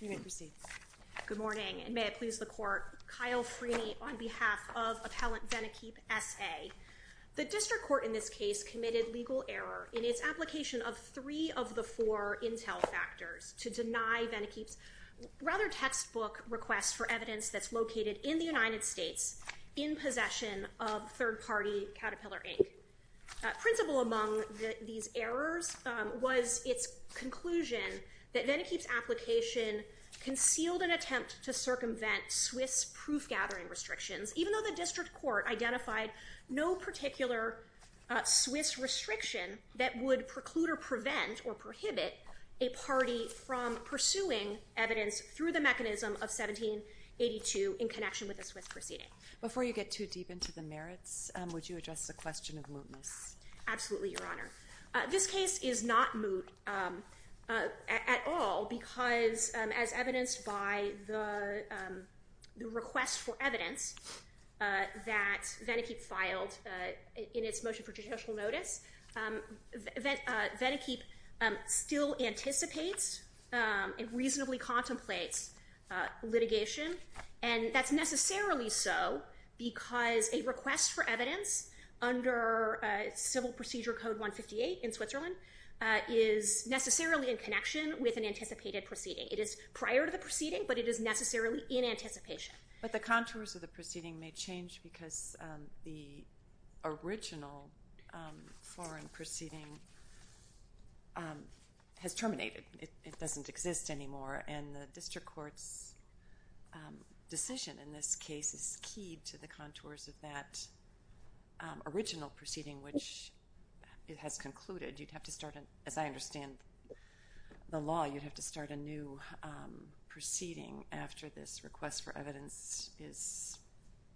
You may proceed. Good morning, and may it please the Court, Kyle Freeney on behalf of Appellant Venequip, S.A. The District Court in this case committed legal error in its application of three of the four intel factors to deny Venequip's rather textbook request for evidence that's located in the United States in possession of third-party Caterpillar, Inc. Principal among these errors was its conclusion that Venequip's application concealed an attempt to circumvent Swiss proof-gathering restrictions, even though the District Court identified no particular Swiss restriction that would preclude or prevent or prohibit a party from pursuing evidence through the mechanism of 1782 in connection with a Swiss proceeding. Before you get too deep into the merits, would you address the question of mootness? Absolutely, Your Honor. This case is not moot at all because, as evidenced by the request for evidence that Venequip filed in its motion for judicial notice, Venequip still anticipates and reasonably contemplates litigation. And that's necessarily so because a request for evidence under Civil Procedure Code 158 in Switzerland is necessarily in connection with an anticipated proceeding. It is prior to the proceeding, but it is necessarily in anticipation. But the contours of the proceeding may change because the original foreign proceeding has terminated. It doesn't exist anymore. And the District Court's decision in this case is key to the contours of that original proceeding, which has concluded. You'd have to start, as I understand the law, you'd have to start a new proceeding after this request for evidence is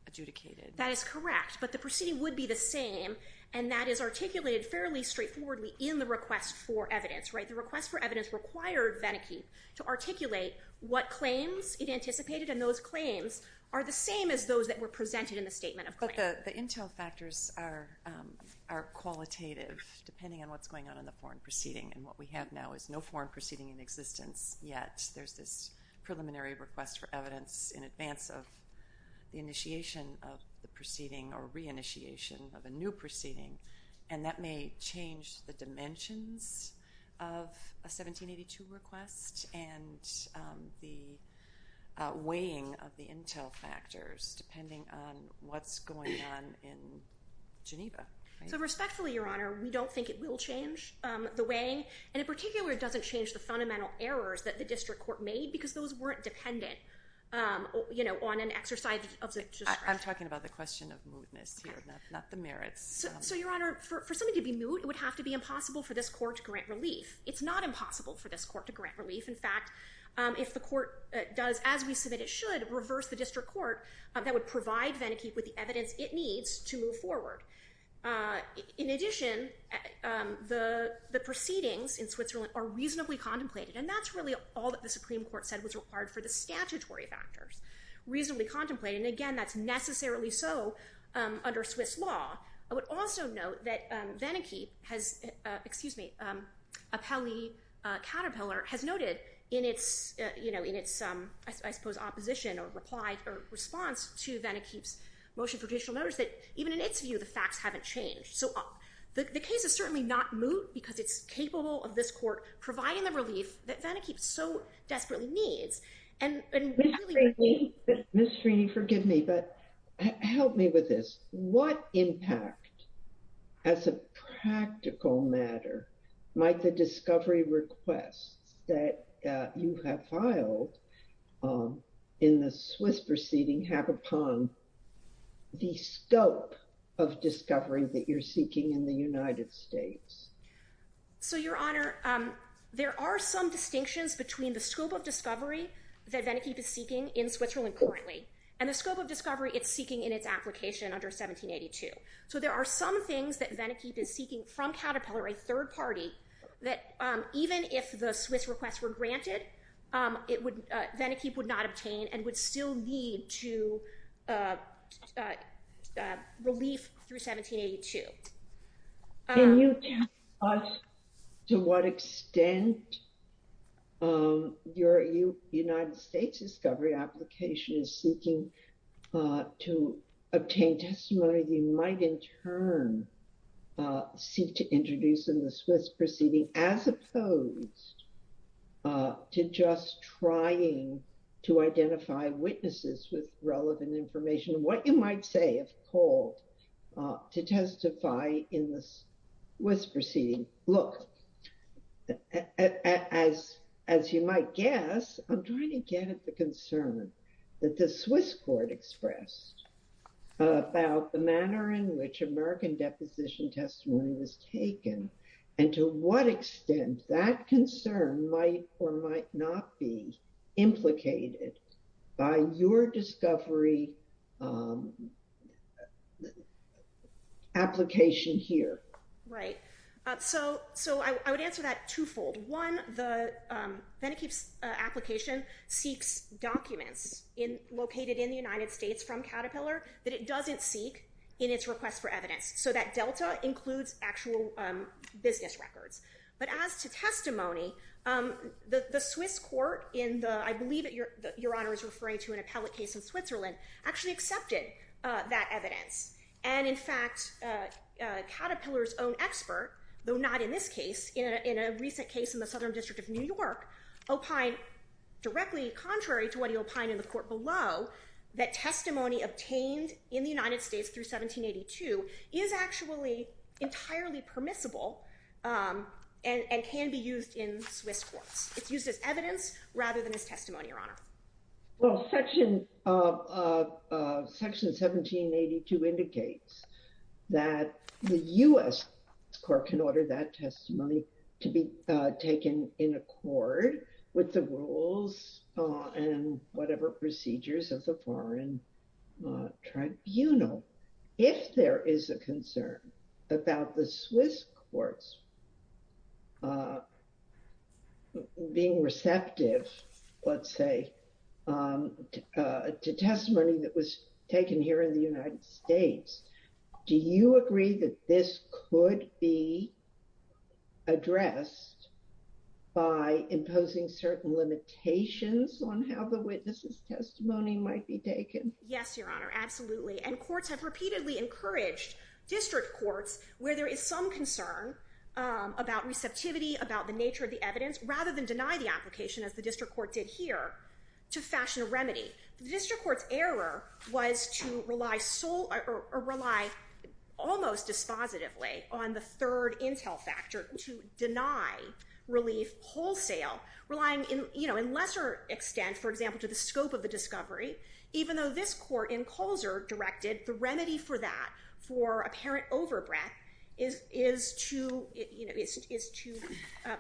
adjudicated. That is correct. But the proceeding would be the same, and that is articulated fairly straightforwardly in the request for evidence, right? The request for evidence required Venequip to articulate what claims it anticipated, and those claims are the same as those that were presented in the statement of claim. But the intel factors are qualitative, depending on what's going on in the foreign proceeding. And what we have now is no foreign proceeding in existence yet. There's this preliminary request for evidence in advance of the initiation of the proceeding or reinitiation of a new proceeding. And that may change the dimensions of a 1782 request and the weighing of the intel factors depending on what's going on in Geneva, right? So respectfully, Your Honor, we don't think it will change the weighing, and in particular it doesn't change the fundamental errors that the District Court made because those weren't dependent on an exercise of discretion. I'm talking about the question of moodness here, not the merits. So, Your Honor, for something to be moot, it would have to be impossible for this court to grant relief. It's not impossible for this court to grant relief. In fact, if the court does as we submit it should, reverse the District Court, that would provide Venequip with the evidence it needs to move forward. In addition, the proceedings in Switzerland are reasonably contemplated, and that's really all that the Supreme Court said was required for the statutory factors. Reasonably contemplated. And again, that's necessarily so under Swiss law. I would also note that Venequip has, excuse me, Apelli Caterpillar has noted in its, you know, in its, I suppose, opposition or response to Venequip's motion for judicial notice that even in its view, the facts haven't changed. So the case is certainly not moot because it's capable of this court providing the relief that Venequip so desperately needs. And Ms. Trini, forgive me, but help me with this. What impact as a practical matter might the discovery requests that you have filed in the Swiss proceeding have upon the scope of discovery that you're seeking in the United States? So, Your Honor, there are some distinctions between the scope of discovery that Venequip is seeking in Switzerland currently and the scope of discovery it's seeking in its application under 1782. So there are some things that Venequip is seeking from Caterpillar, a third party, that even if the Swiss requests were granted, it would, Venequip would not obtain and would still need to relief through 1782. Can you tell us to what extent your United States discovery application is seeking to obtain testimony that you might in turn seek to introduce in the Swiss proceeding, as opposed to just trying to identify witnesses with relevant information? What you might say, if called to testify in the Swiss proceeding, look, as you might guess, I'm trying to get at the concern that the Swiss court expressed about the manner in which American deposition testimony was taken and to what extent that concern might or might not be implicated by your discovery application here. Right. So I would answer that twofold. One, the Venequip's application seeks documents located in the United States from Caterpillar that it doesn't seek in its request for evidence. So that delta includes actual business records. But as to testimony, the Swiss court in the, I believe that your honor is referring to an appellate case in Switzerland, actually accepted that evidence. And in fact, Caterpillar's own expert, though not in this case, in a recent case in the Southern District of New York, opined directly contrary to what he opined in the court below, that testimony obtained in the United States through 1782 is actually entirely permissible and can be used in Swiss courts. It's used as evidence rather than as testimony, your honor. Well, section 1782 indicates that the US court can order that testimony to be taken in accord with the rules and whatever procedures of the foreign tribunal. If there is a concern about the Swiss courts being receptive, let's say, to testimony that was taken here in the United States, do you agree that this could be addressed by imposing certain limitations on how the witness's testimony might be taken? Yes, your honor. Absolutely. And courts have repeatedly encouraged district courts where there is some concern about receptivity, about the nature of the evidence, rather than deny the application as the district court did here to fashion a remedy. The district court's error was to rely almost dispositively on the third intel factor to deny relief wholesale, relying in lesser extent, for example, to the scope of the discovery, even though this court in Colzer directed the remedy for that, for apparent overbreath, is to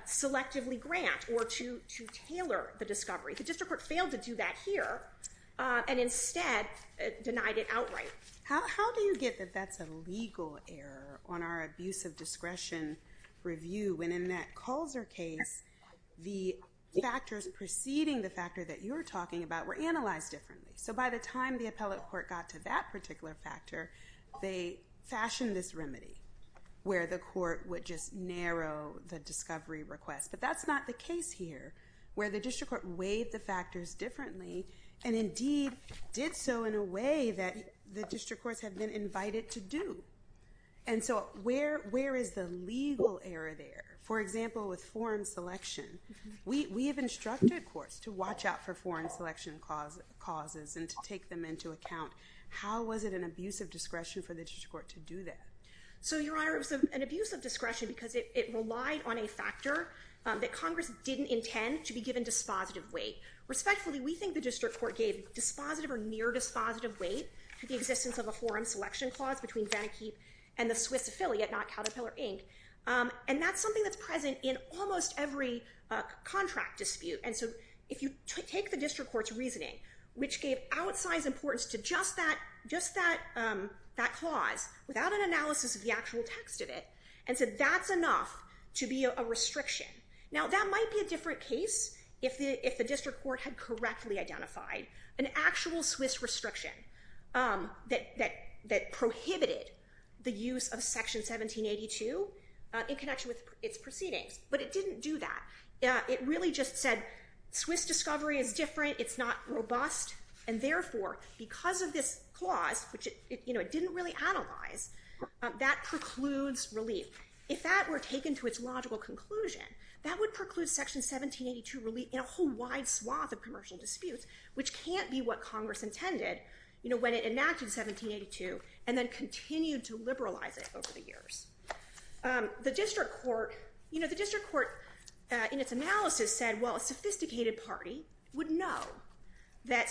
selectively grant or to tailor the discovery. The district court failed to do that here and instead denied it outright. How do you get that that's a legal error on our abuse of discretion review when in that Colzer case, the factors preceding the factor that you're talking about were analyzed differently? So by the time the appellate court got to that particular factor, they fashioned this remedy where the court would just narrow the discovery request. But that's not the case here, where the district court weighed the factors differently and indeed did so in a way that the district courts have been invited to do. And so where is the legal error there? For example, with foreign selection, we have instructed courts to watch out for foreign selection causes and to take them into account. How was it an abuse of discretion for the district court to do that? So, Your Honor, it was an abuse of discretion because it relied on a factor that Congress didn't intend to be given dispositive weight. Respectfully, we think the district court gave dispositive or near-dispositive weight to the existence of a forum selection clause between Vannekeep and the Swiss affiliate, not Caterpillar, Inc. And that's something that's present in almost every contract dispute. And so if you take the district court's reasoning, which gave outsized importance to just that clause without an analysis of the actual text of it, and said that's enough to be a restriction. Now, that might be a different case if the district court had correctly identified an actual Swiss restriction that prohibited the use of Section 1782 in connection with its proceedings. But it didn't do that. It really just said, Swiss discovery is different. It's not robust. And therefore, because of this clause, which it didn't really analyze, that precludes relief. If that were taken to its logical conclusion, that would preclude Section 1782 relief in a whole wide swath of commercial disputes, which can't be what Congress intended when it enacted 1782 and then continued to liberalize it over the years. The district court in its analysis said, well, a sophisticated party would know that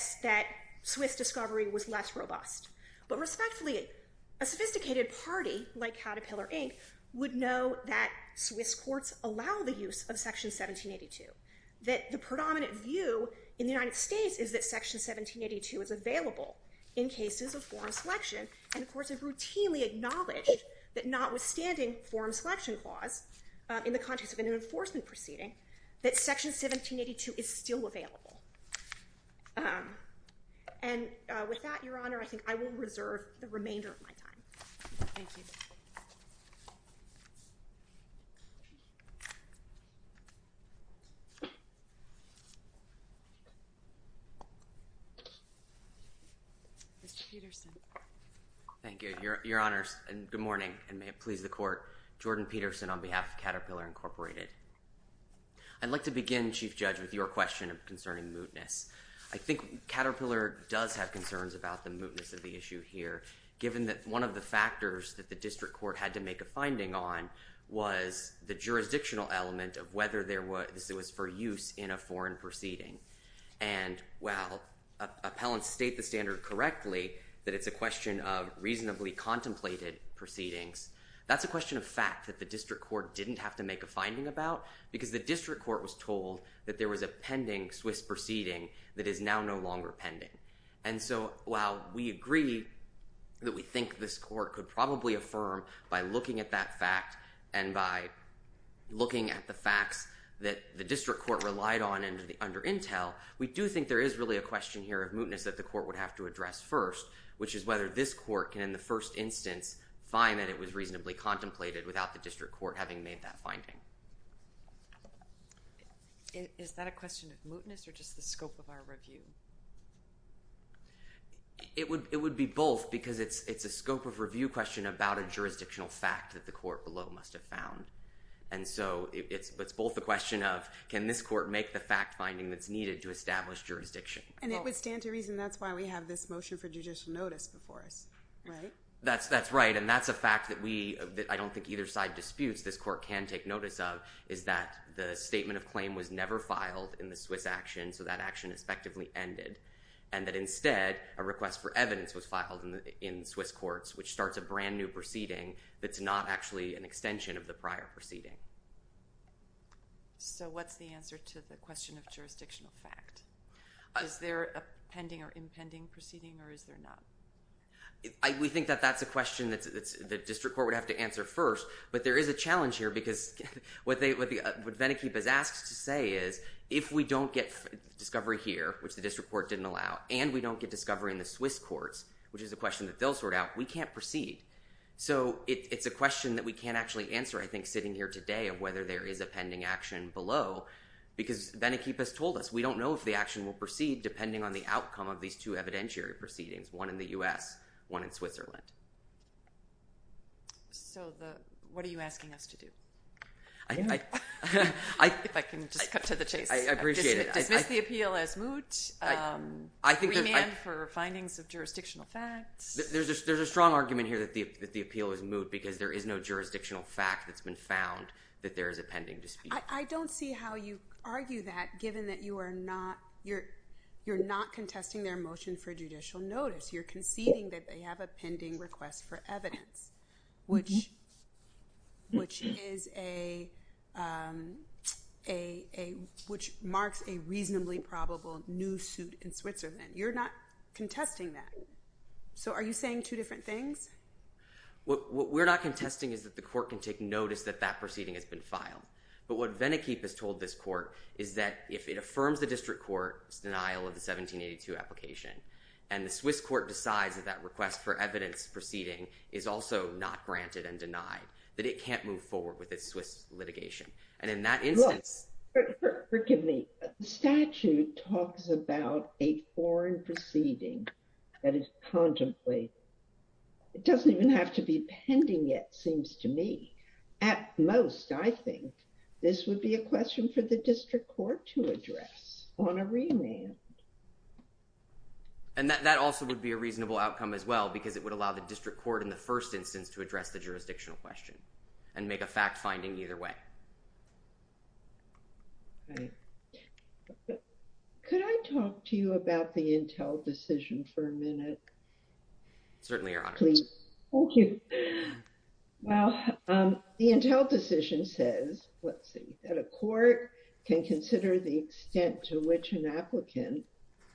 Swiss discovery was less robust. But respectfully, a sophisticated party, like Caterpillar, Inc., would know that Swiss courts allow the use of Section 1782. That the predominant view in the United States is that Section 1782 is available in cases of foreign selection. And of course, I've routinely acknowledged that notwithstanding foreign selection clause in the context of an enforcement proceeding, that Section 1782 is still available. And with that, Your Honor, I think I will reserve the remainder of my time. Thank you. Mr. Peterson. Thank you, Your Honors. And good morning, and may it please the Court. Jordan Peterson on behalf of Caterpillar, Inc. I'd like to begin, Chief Judge, with your question concerning mootness. I think Caterpillar does have concerns about the mootness of the issue here, given that one of the factors that the district court had to make a finding on was the jurisdictional element of whether this was for use in a foreign proceeding. And while appellants state the standard correctly, that it's a question of reasonably contemplated proceedings, that's a question of fact that the district court didn't have to make a finding about, because the district court was told that there was a pending Swiss proceeding that is now no longer pending. And so while we agree that we think this court could probably affirm by looking at that fact and by looking at the facts that the district court relied on under intel, we do think there is really a question here of mootness that the court would have to address first, which is whether this court can, in the first instance, find that it was reasonably contemplated without the district court having made that finding. Is that a question of mootness or just the scope of our review? It would be both, because it's a scope of review question about a jurisdictional fact that the court below must have found. And so it's both a question of, can this court make the fact finding that's needed to establish jurisdiction? And it would stand to reason that's why we have this motion for judicial notice before us, right? That's right. And that's a fact that I don't think either side disputes this court can take notice of, is that the statement of claim was never filed in the Swiss action. So that action effectively ended. And that instead, a request for evidence was filed in Swiss courts, which starts a brand new proceeding that's not actually an extension of the prior proceeding. So what's the answer to the question of jurisdictional fact? Is there a pending or impending proceeding, or is there not? We think that that's a question that the district court would have to answer first. But there is a challenge here, because what Venikeep has asked to say is, if we don't get discovery here, which the district court didn't allow, and we don't get discovery in the Swiss courts, which is a question that they'll sort out, we can't proceed. So it's a question that we can't actually answer, I think, sitting here today of whether there is a pending action below, because Venikeep has told us, we don't know if the action will proceed depending on the outcome of these two evidentiary proceedings, one in the US, one in Switzerland. So what are you asking us to do? If I can just cut to the chase. I appreciate it. Dismiss the appeal as moot, remand for findings of jurisdictional facts. There's a strong argument here that the appeal is moot, because there is no jurisdictional fact that's been found that there is a pending dispute. I don't see how you argue that, given that you're not contesting their motion for judicial notice. You're conceding that they have a pending request for evidence, which marks a reasonably probable new suit in Switzerland. You're not contesting that. So are you saying two different things? What we're not contesting is that the court can take notice that that proceeding has been filed. But what Venikeep has told this court is that if it affirms the district court's denial of the 1782 application, and the Swiss court decides that that request for evidence proceeding is also not granted and denied, that it can't move forward with its Swiss litigation. And in that instance— Forgive me. But the statute talks about a foreign proceeding that is contemplated. It doesn't even have to be pending yet, seems to me. At most, I think, this would be a question for the district court to address on a remand. And that also would be a reasonable outcome as well, because it would allow the district court in the first instance to address the jurisdictional question and make a fact finding either way. Right. Could I talk to you about the Intel decision for a minute? Certainly, Your Honor. Thank you. Well, the Intel decision says, let's see, that a court can consider the extent to which an applicant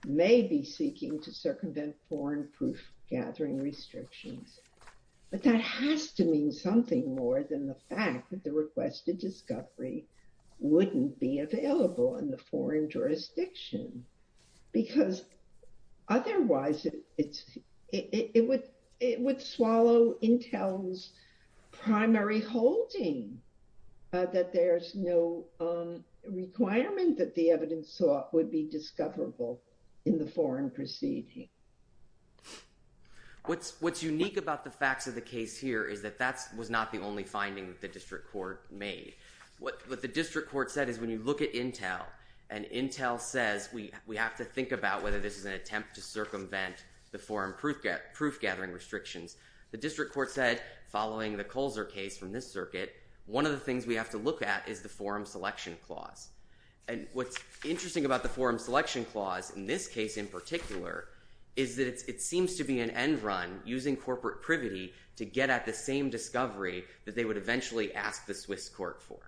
may be seeking to circumvent foreign proof-gathering restrictions. But that has to mean something more than the fact that the requested discovery wouldn't be available in the foreign jurisdiction. Because otherwise, it would swallow Intel's primary holding that there's no requirement that the evidence sought would be discoverable in the foreign proceeding. What's unique about the facts of the case here is that that was not the only finding that the district court made. What the district court said is, when you look at Intel, and Intel says, we have to think about whether this is an attempt to circumvent the foreign proof-gathering restrictions, the district court said, following the Colzer case from this circuit, one of the things we have to look at is the forum selection clause. And what's interesting about the forum selection clause, in this case in particular, is that it seems to be an end run using corporate privity to get at the same discovery that they would eventually ask the Swiss court for.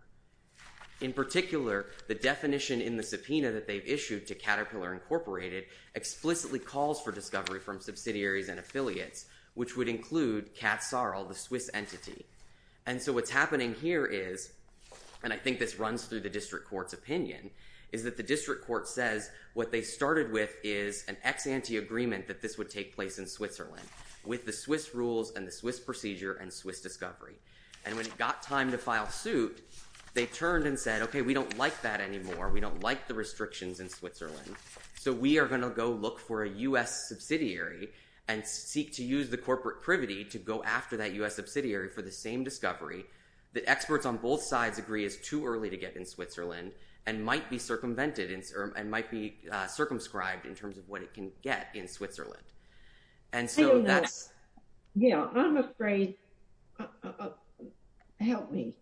In particular, the definition in the subpoena that they've issued to Caterpillar Incorporated explicitly calls for discovery from subsidiaries and affiliates, which would include Kat Sarl, the Swiss entity. And so what's happening here is, and I think this runs through the district court's opinion, is that the district court says what they started with is an ex-ante agreement that this would take place in Switzerland with the Swiss rules and the Swiss procedure and Swiss discovery. And when it got time to file suit, they turned and said, OK, we don't like that anymore. We don't like the restrictions in Switzerland. So we are going to go look for a U.S. subsidiary and seek to use the corporate privity to go after that U.S. subsidiary for the same discovery that experts on both sides agree is too early to get in Switzerland and might be circumvented and might be circumscribed in terms of what it can get in Switzerland. And so that's... Yeah, I'm afraid... Help me.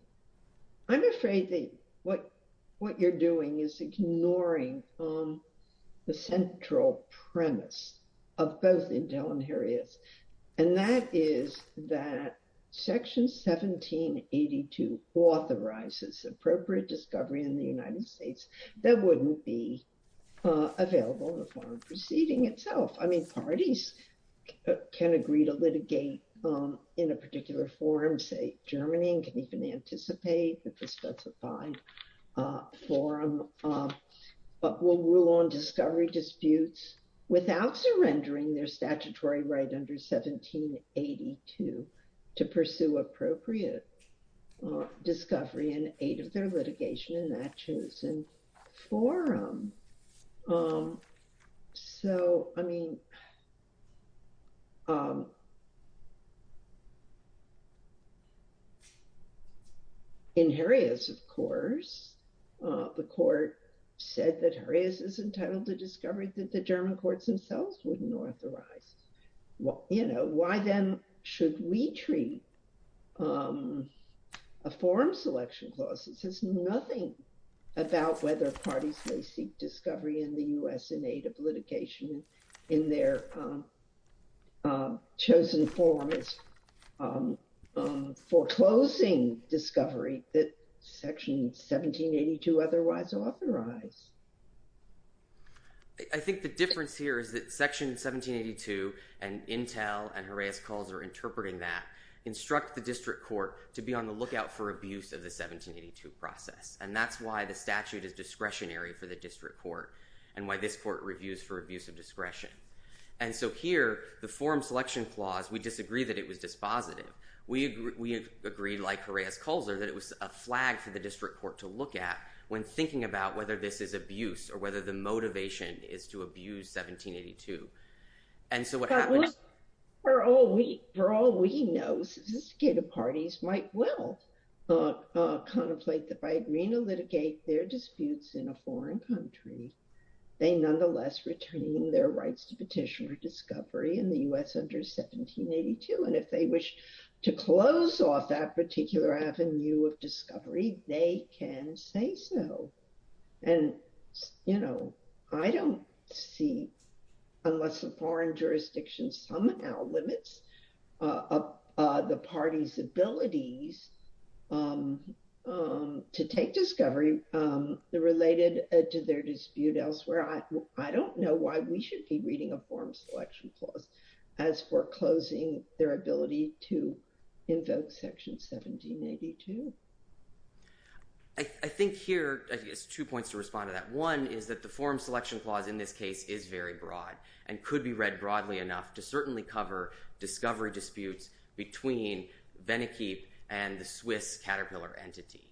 I'm afraid that what you're doing is ignoring the central premise of both Intel and Herias, and that is that Section 1782 authorizes appropriate discovery in the United States that wouldn't be available in the foreign proceeding itself. I mean, parties can agree to litigate in a particular forum, say Germany, and can even anticipate that the specified forum will rule on discovery disputes without surrendering their statutory right under 1782 to pursue appropriate discovery in aid of their litigation in that chosen forum. So, I mean, in Herias, of course, the court said that Herias is entitled to discovery that the German courts themselves wouldn't authorize. Well, you know, why then should we treat a forum selection clause that says nothing about whether parties may seek discovery in the U.S. in aid of litigation in their chosen forum as foreclosing discovery that Section 1782 otherwise authorized? I think the difference here is that Section 1782 and Intel and Herias calls are interpreting that, instruct the district court to be on the lookout for abuse of the 1782 process. And that's why the statute is discretionary for the district court and why this court reviews for abuse of discretion. And so here, the forum selection clause, we disagree that it was dispositive. We agree, like Herias calls it, that it was a flag for the district court to look at when thinking about whether this is abuse or whether the motivation is to abuse 1782. And so what happens? For all we know, sophisticated parties might well contemplate that by agreeing to litigate their disputes in a foreign country, they nonetheless retain their rights to petition for discovery in the U.S. under 1782. And if they wish to close off that particular avenue of discovery, they can say so. And, you know, I don't see, unless the foreign jurisdiction somehow limits the party's abilities to take discovery related to their dispute elsewhere, I don't know why we should be reading a forum selection clause as foreclosing their ability to invoke Section 1782. I think here, I guess, two points to respond to that. One is that the forum selection clause in this case is very broad and could be read broadly enough to certainly cover discovery disputes between Venikeep and the Swiss Caterpillar entity.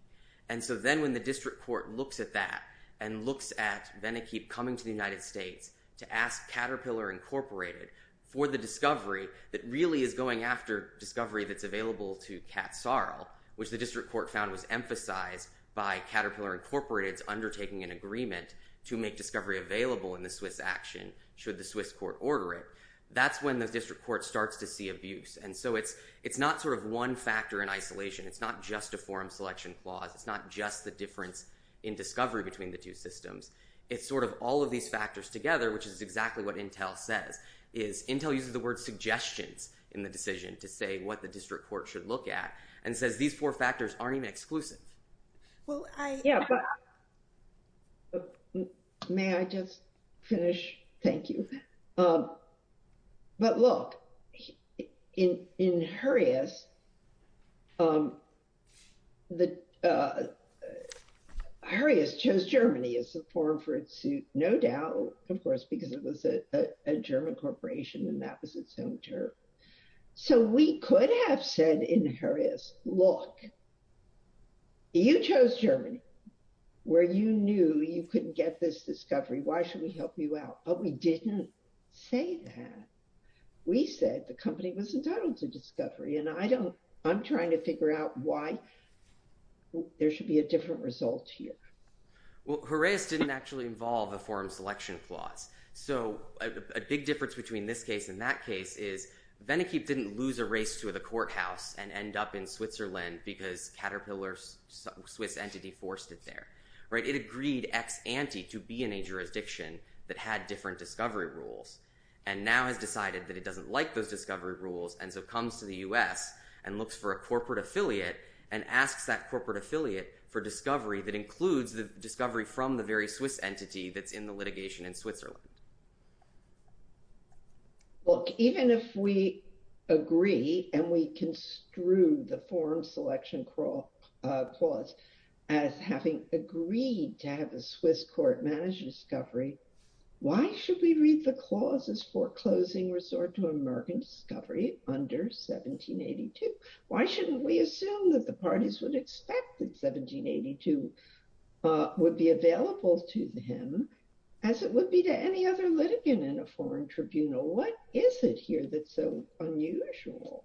And so then when the district court looks at that and looks at Venikeep coming to the United States to ask Caterpillar Incorporated for the discovery that really is going after discovery that's available to Kat Sarl, which the district court found was emphasized by Caterpillar Incorporated's undertaking an agreement to make discovery available in the Swiss action should the Swiss court order it, that's when the district court starts to see abuse. And so it's not sort of one factor in isolation. It's not just a forum selection clause. It's not just the difference in discovery between the two systems. It's sort of all of these factors together, which is exactly what Intel says, is Intel uses the word suggestions in the decision to say what the district court should look at and says these four factors aren't even exclusive. Well, I yeah. But may I just finish? Thank you. But look, in Hurrius, the Hurrius chose Germany as a forum for its suit, no doubt, of course, because it was a German corporation and that was its own term. So we could have said in Hurrius, look, you chose Germany where you knew you couldn't get this discovery. Why should we help you out? But we didn't say that. We said the company was entitled to discovery. And I don't I'm trying to figure out why there should be a different result here. Well, Hurrius didn't actually involve a forum selection clause. So a big difference between this case and that case is Venikeep didn't lose a race to the courthouse and end up in Switzerland because Caterpillar's Swiss entity forced it there, right? It agreed ex ante to be in a jurisdiction that had different discovery rules and now has decided that it doesn't like those discovery rules and so comes to the U.S. and looks for a corporate affiliate and asks that corporate affiliate for discovery that includes the discovery from the very Swiss entity that's in the litigation in Switzerland. Look, even if we agree and we construe the forum selection clause as having agreed to have a Swiss court manage discovery, why should we read the clauses foreclosing resort to American discovery under 1782? Why shouldn't we assume that the parties would expect that 1782 would be available to him as it would be to any other litigant in a foreign tribunal? What is it here that's so unusual?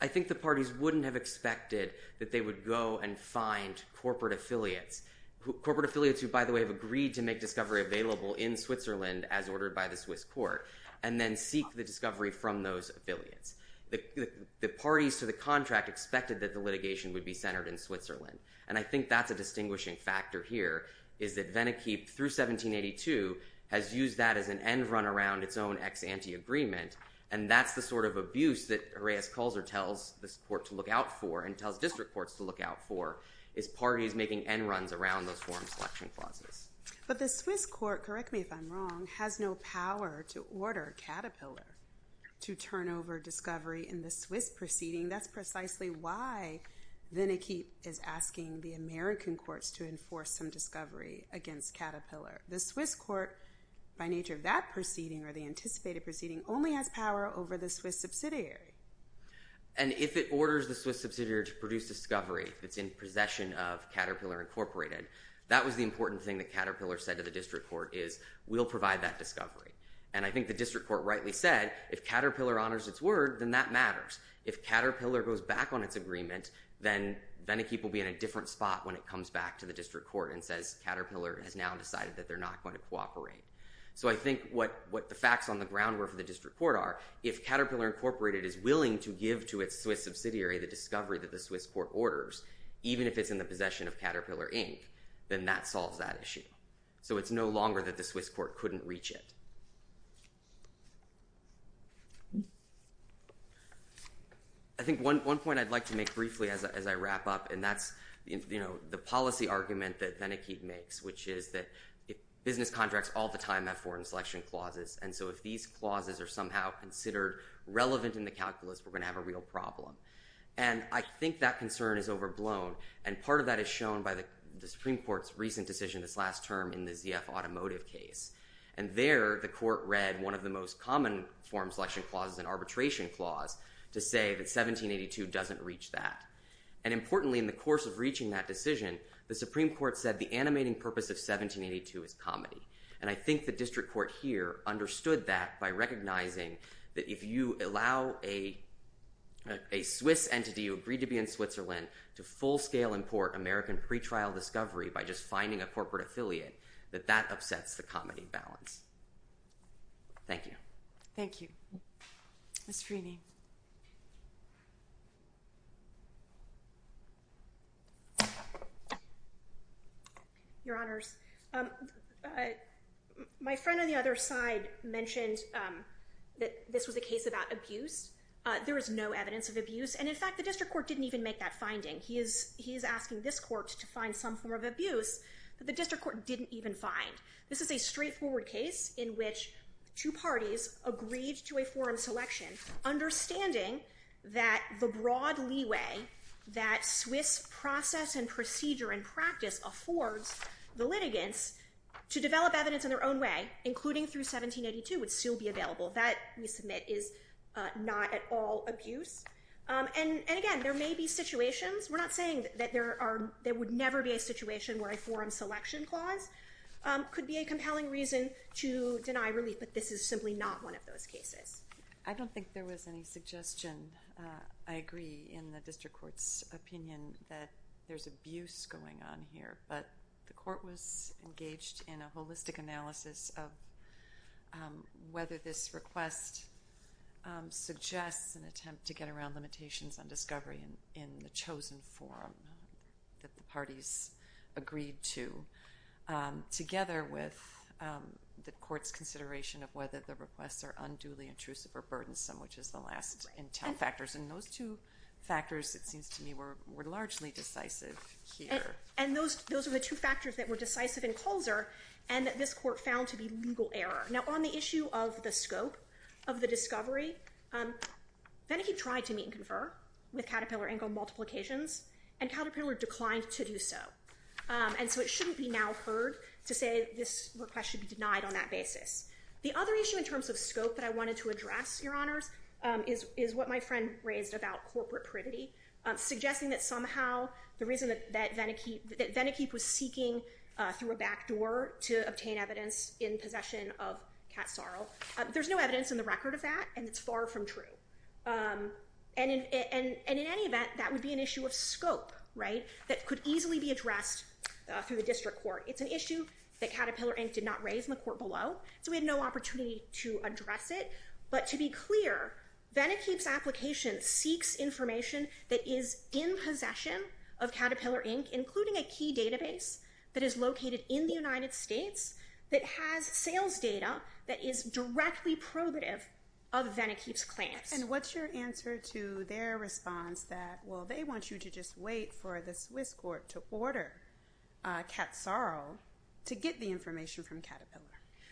I think the parties wouldn't have expected that they would go and find corporate affiliates. Corporate affiliates who, by the way, have agreed to make discovery available in Switzerland as ordered by the Swiss court and then seek the discovery from those affiliates. The parties to the contract expected that the litigation would be centered in Switzerland. And I think that's a distinguishing factor here is that Wenneke through 1782 has used that as an end run around its own ex-ante agreement. And that's the sort of abuse that Reyes-Kulzer tells this court to look out for and tells district courts to look out for is parties making end runs around those forum selection clauses. But the Swiss court, correct me if I'm wrong, has no power to order Caterpillar to turn over discovery in the Swiss proceeding. That's precisely why Wenneke is asking the American courts to enforce some discovery against Caterpillar. The Swiss court, by nature of that proceeding or the anticipated proceeding, only has power over the Swiss subsidiary. And if it orders the Swiss subsidiary to produce discovery that's in possession of Caterpillar Incorporated, that was the important thing that Caterpillar said to the district court is we'll provide that discovery. And I think the district court rightly said if Caterpillar honors its word, then that matters. If Caterpillar goes back on its agreement, then Wenneke will be in a different spot when it comes back to the district court and says Caterpillar has now decided that they're not going to cooperate. So I think what the facts on the ground were for the district court are if Caterpillar Incorporated is willing to give to its Swiss subsidiary the discovery that the Swiss court orders, even if it's in the possession of Caterpillar Inc., then that solves that issue. So it's no longer that the Swiss court couldn't reach it. I think one point I'd like to make briefly as I wrap up, and that's the policy argument that Wenneke makes, which is that business contracts all the time have foreign selection clauses. And so if these clauses are somehow considered relevant in the calculus, we're going to have a real problem. And I think that concern is overblown. And part of that is shown by the Supreme Court's recent decision this last term in the ZF automotive case. And there the court read one of the most common foreign selection clauses, an arbitration clause, to say that 1782 doesn't reach that. And importantly, in the course of reaching that decision, the Supreme Court said the animating purpose of 1782 is comedy. And I think the district court here understood that by recognizing that if you allow a Swiss entity who agreed to be in Switzerland to full-scale import American pretrial discovery by just finding a corporate affiliate, that that upsets the comedy balance. Thank you. Thank you. Ms. Freeny. Your Honors, my friend on the other side mentioned that this was a case about abuse. There is no evidence of abuse. He's asking this court to find some form of abuse that the district court didn't even find. This is a straightforward case in which two parties agreed to a foreign selection, understanding that the broad leeway that Swiss process and procedure and practice affords the litigants to develop evidence in their own way, including through 1782, would still be available. That, we submit, is not at all abuse. And again, there may be situations. We're not saying that there would never be a situation where a foreign selection clause could be a compelling reason to deny relief. But this is simply not one of those cases. I don't think there was any suggestion. I agree in the district court's opinion that there's abuse going on here. But the court was engaged in a holistic analysis of whether this request suggests an attempt to get around limitations on discovery in the chosen form that the parties agreed to, together with the court's consideration of whether the requests are unduly intrusive or burdensome, which is the last intel factors. And those two factors, it seems to me, were largely decisive here. And those are the two factors that were decisive in Colzer and that this court found to be legal error. Now, on the issue of the scope of the discovery, Venikeep tried to meet and confer with Caterpillar ankle multiplications, and Caterpillar declined to do so. And so it shouldn't be now heard to say this request should be denied on that basis. The other issue in terms of scope that I wanted to address, Your Honors, is what my friend raised about corporate privity, suggesting that somehow the reason that Venikeep was seeking through a backdoor to obtain evidence in possession of Kat Sarle, there's no evidence in the record of that, and it's far from true. And in any event, that would be an issue of scope that could easily be addressed through the district court. It's an issue that Caterpillar Inc. did not raise in the court below, so we had no opportunity to address it. But to be clear, Venikeep's application seeks information that is in possession of Caterpillar Inc., including a key database that is located in the United States that has sales data that is directly probative of Venikeep's claims. And what's your answer to their response that, well, they want you to just wait for the Swiss court to order Kat Sarle to get the information from Caterpillar?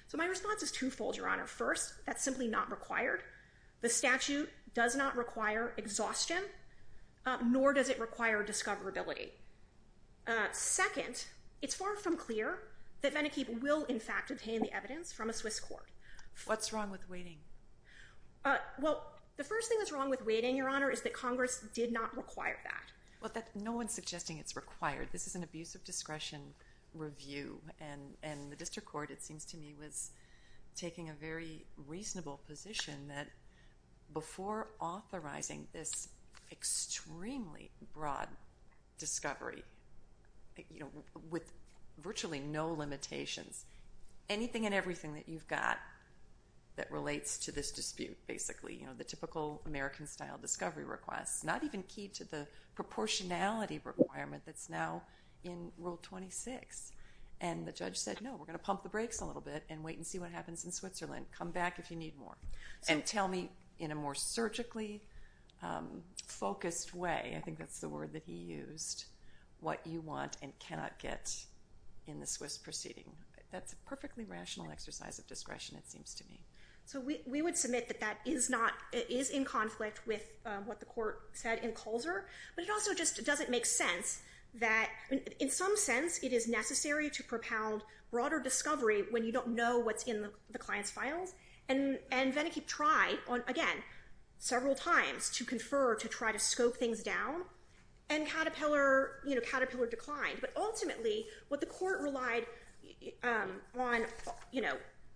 So my response is twofold, Your Honor. First, that's simply not required. The statute does not require exhaustion, nor does it require discoverability. Second, it's far from clear that Venikeep will, in fact, obtain the evidence from a Swiss court. What's wrong with waiting? Well, the first thing that's wrong with waiting, Your Honor, is that Congress did not require that. Well, no one's suggesting it's required. This is an abuse of discretion review, and the district court, it seems to me, was taking a very reasonable position that before authorizing this extremely broad discovery, you know, with virtually no limitations, anything and everything that you've got that relates to this dispute, basically, you know, the typical American-style discovery request, not even key to the proportionality requirement that's now in Rule 26. And the judge said, no, we're going to pump the brakes a little bit and wait and see what happens in Switzerland. Come back if you need more. And tell me in a more surgically focused way. I think that's the word that he used. What you want and cannot get in the Swiss proceeding. That's a perfectly rational exercise of discretion, it seems to me. So we would submit that that is in conflict with what the court said in Colzer. But it also just doesn't make sense that, in some sense, it is necessary to propound broader discovery when you don't know what's in the client's files. And Venneke tried, again, several times to confer to try to scope things down. And Caterpillar declined. But ultimately, what the court relied on,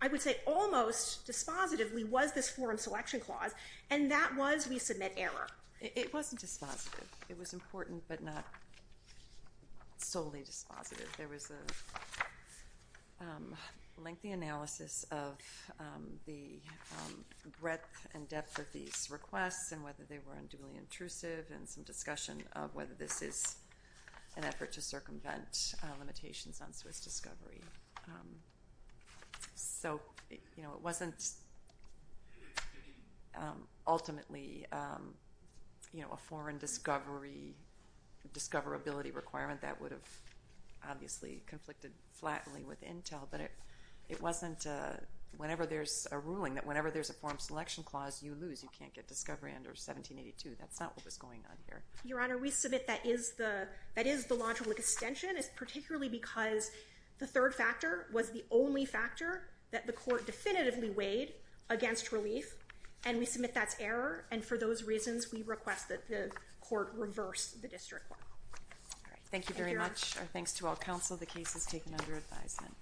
I would say almost dispositively, was this forum selection clause. And that was we submit error. It wasn't dispositive. It was important, but not solely dispositive. There was a lengthy analysis of the breadth and depth of these requests and whether they were unduly intrusive and some discussion of whether this is an effort to circumvent limitations on Swiss discovery. So it wasn't ultimately a foreign discovery, discoverability requirement that would have obviously conflicted flatly with Intel. But it wasn't whenever there's a ruling that whenever there's a forum selection clause, you lose. You can't get discovery under 1782. That's not what was going on here. Your Honor, we submit that is the logical extension. It's particularly because the third factor was the only factor that the court definitively weighed against relief. And we submit that's error. And for those reasons, we request that the court reverse the district law. Thank you very much. Our thanks to all counsel. The case is taken under advisement.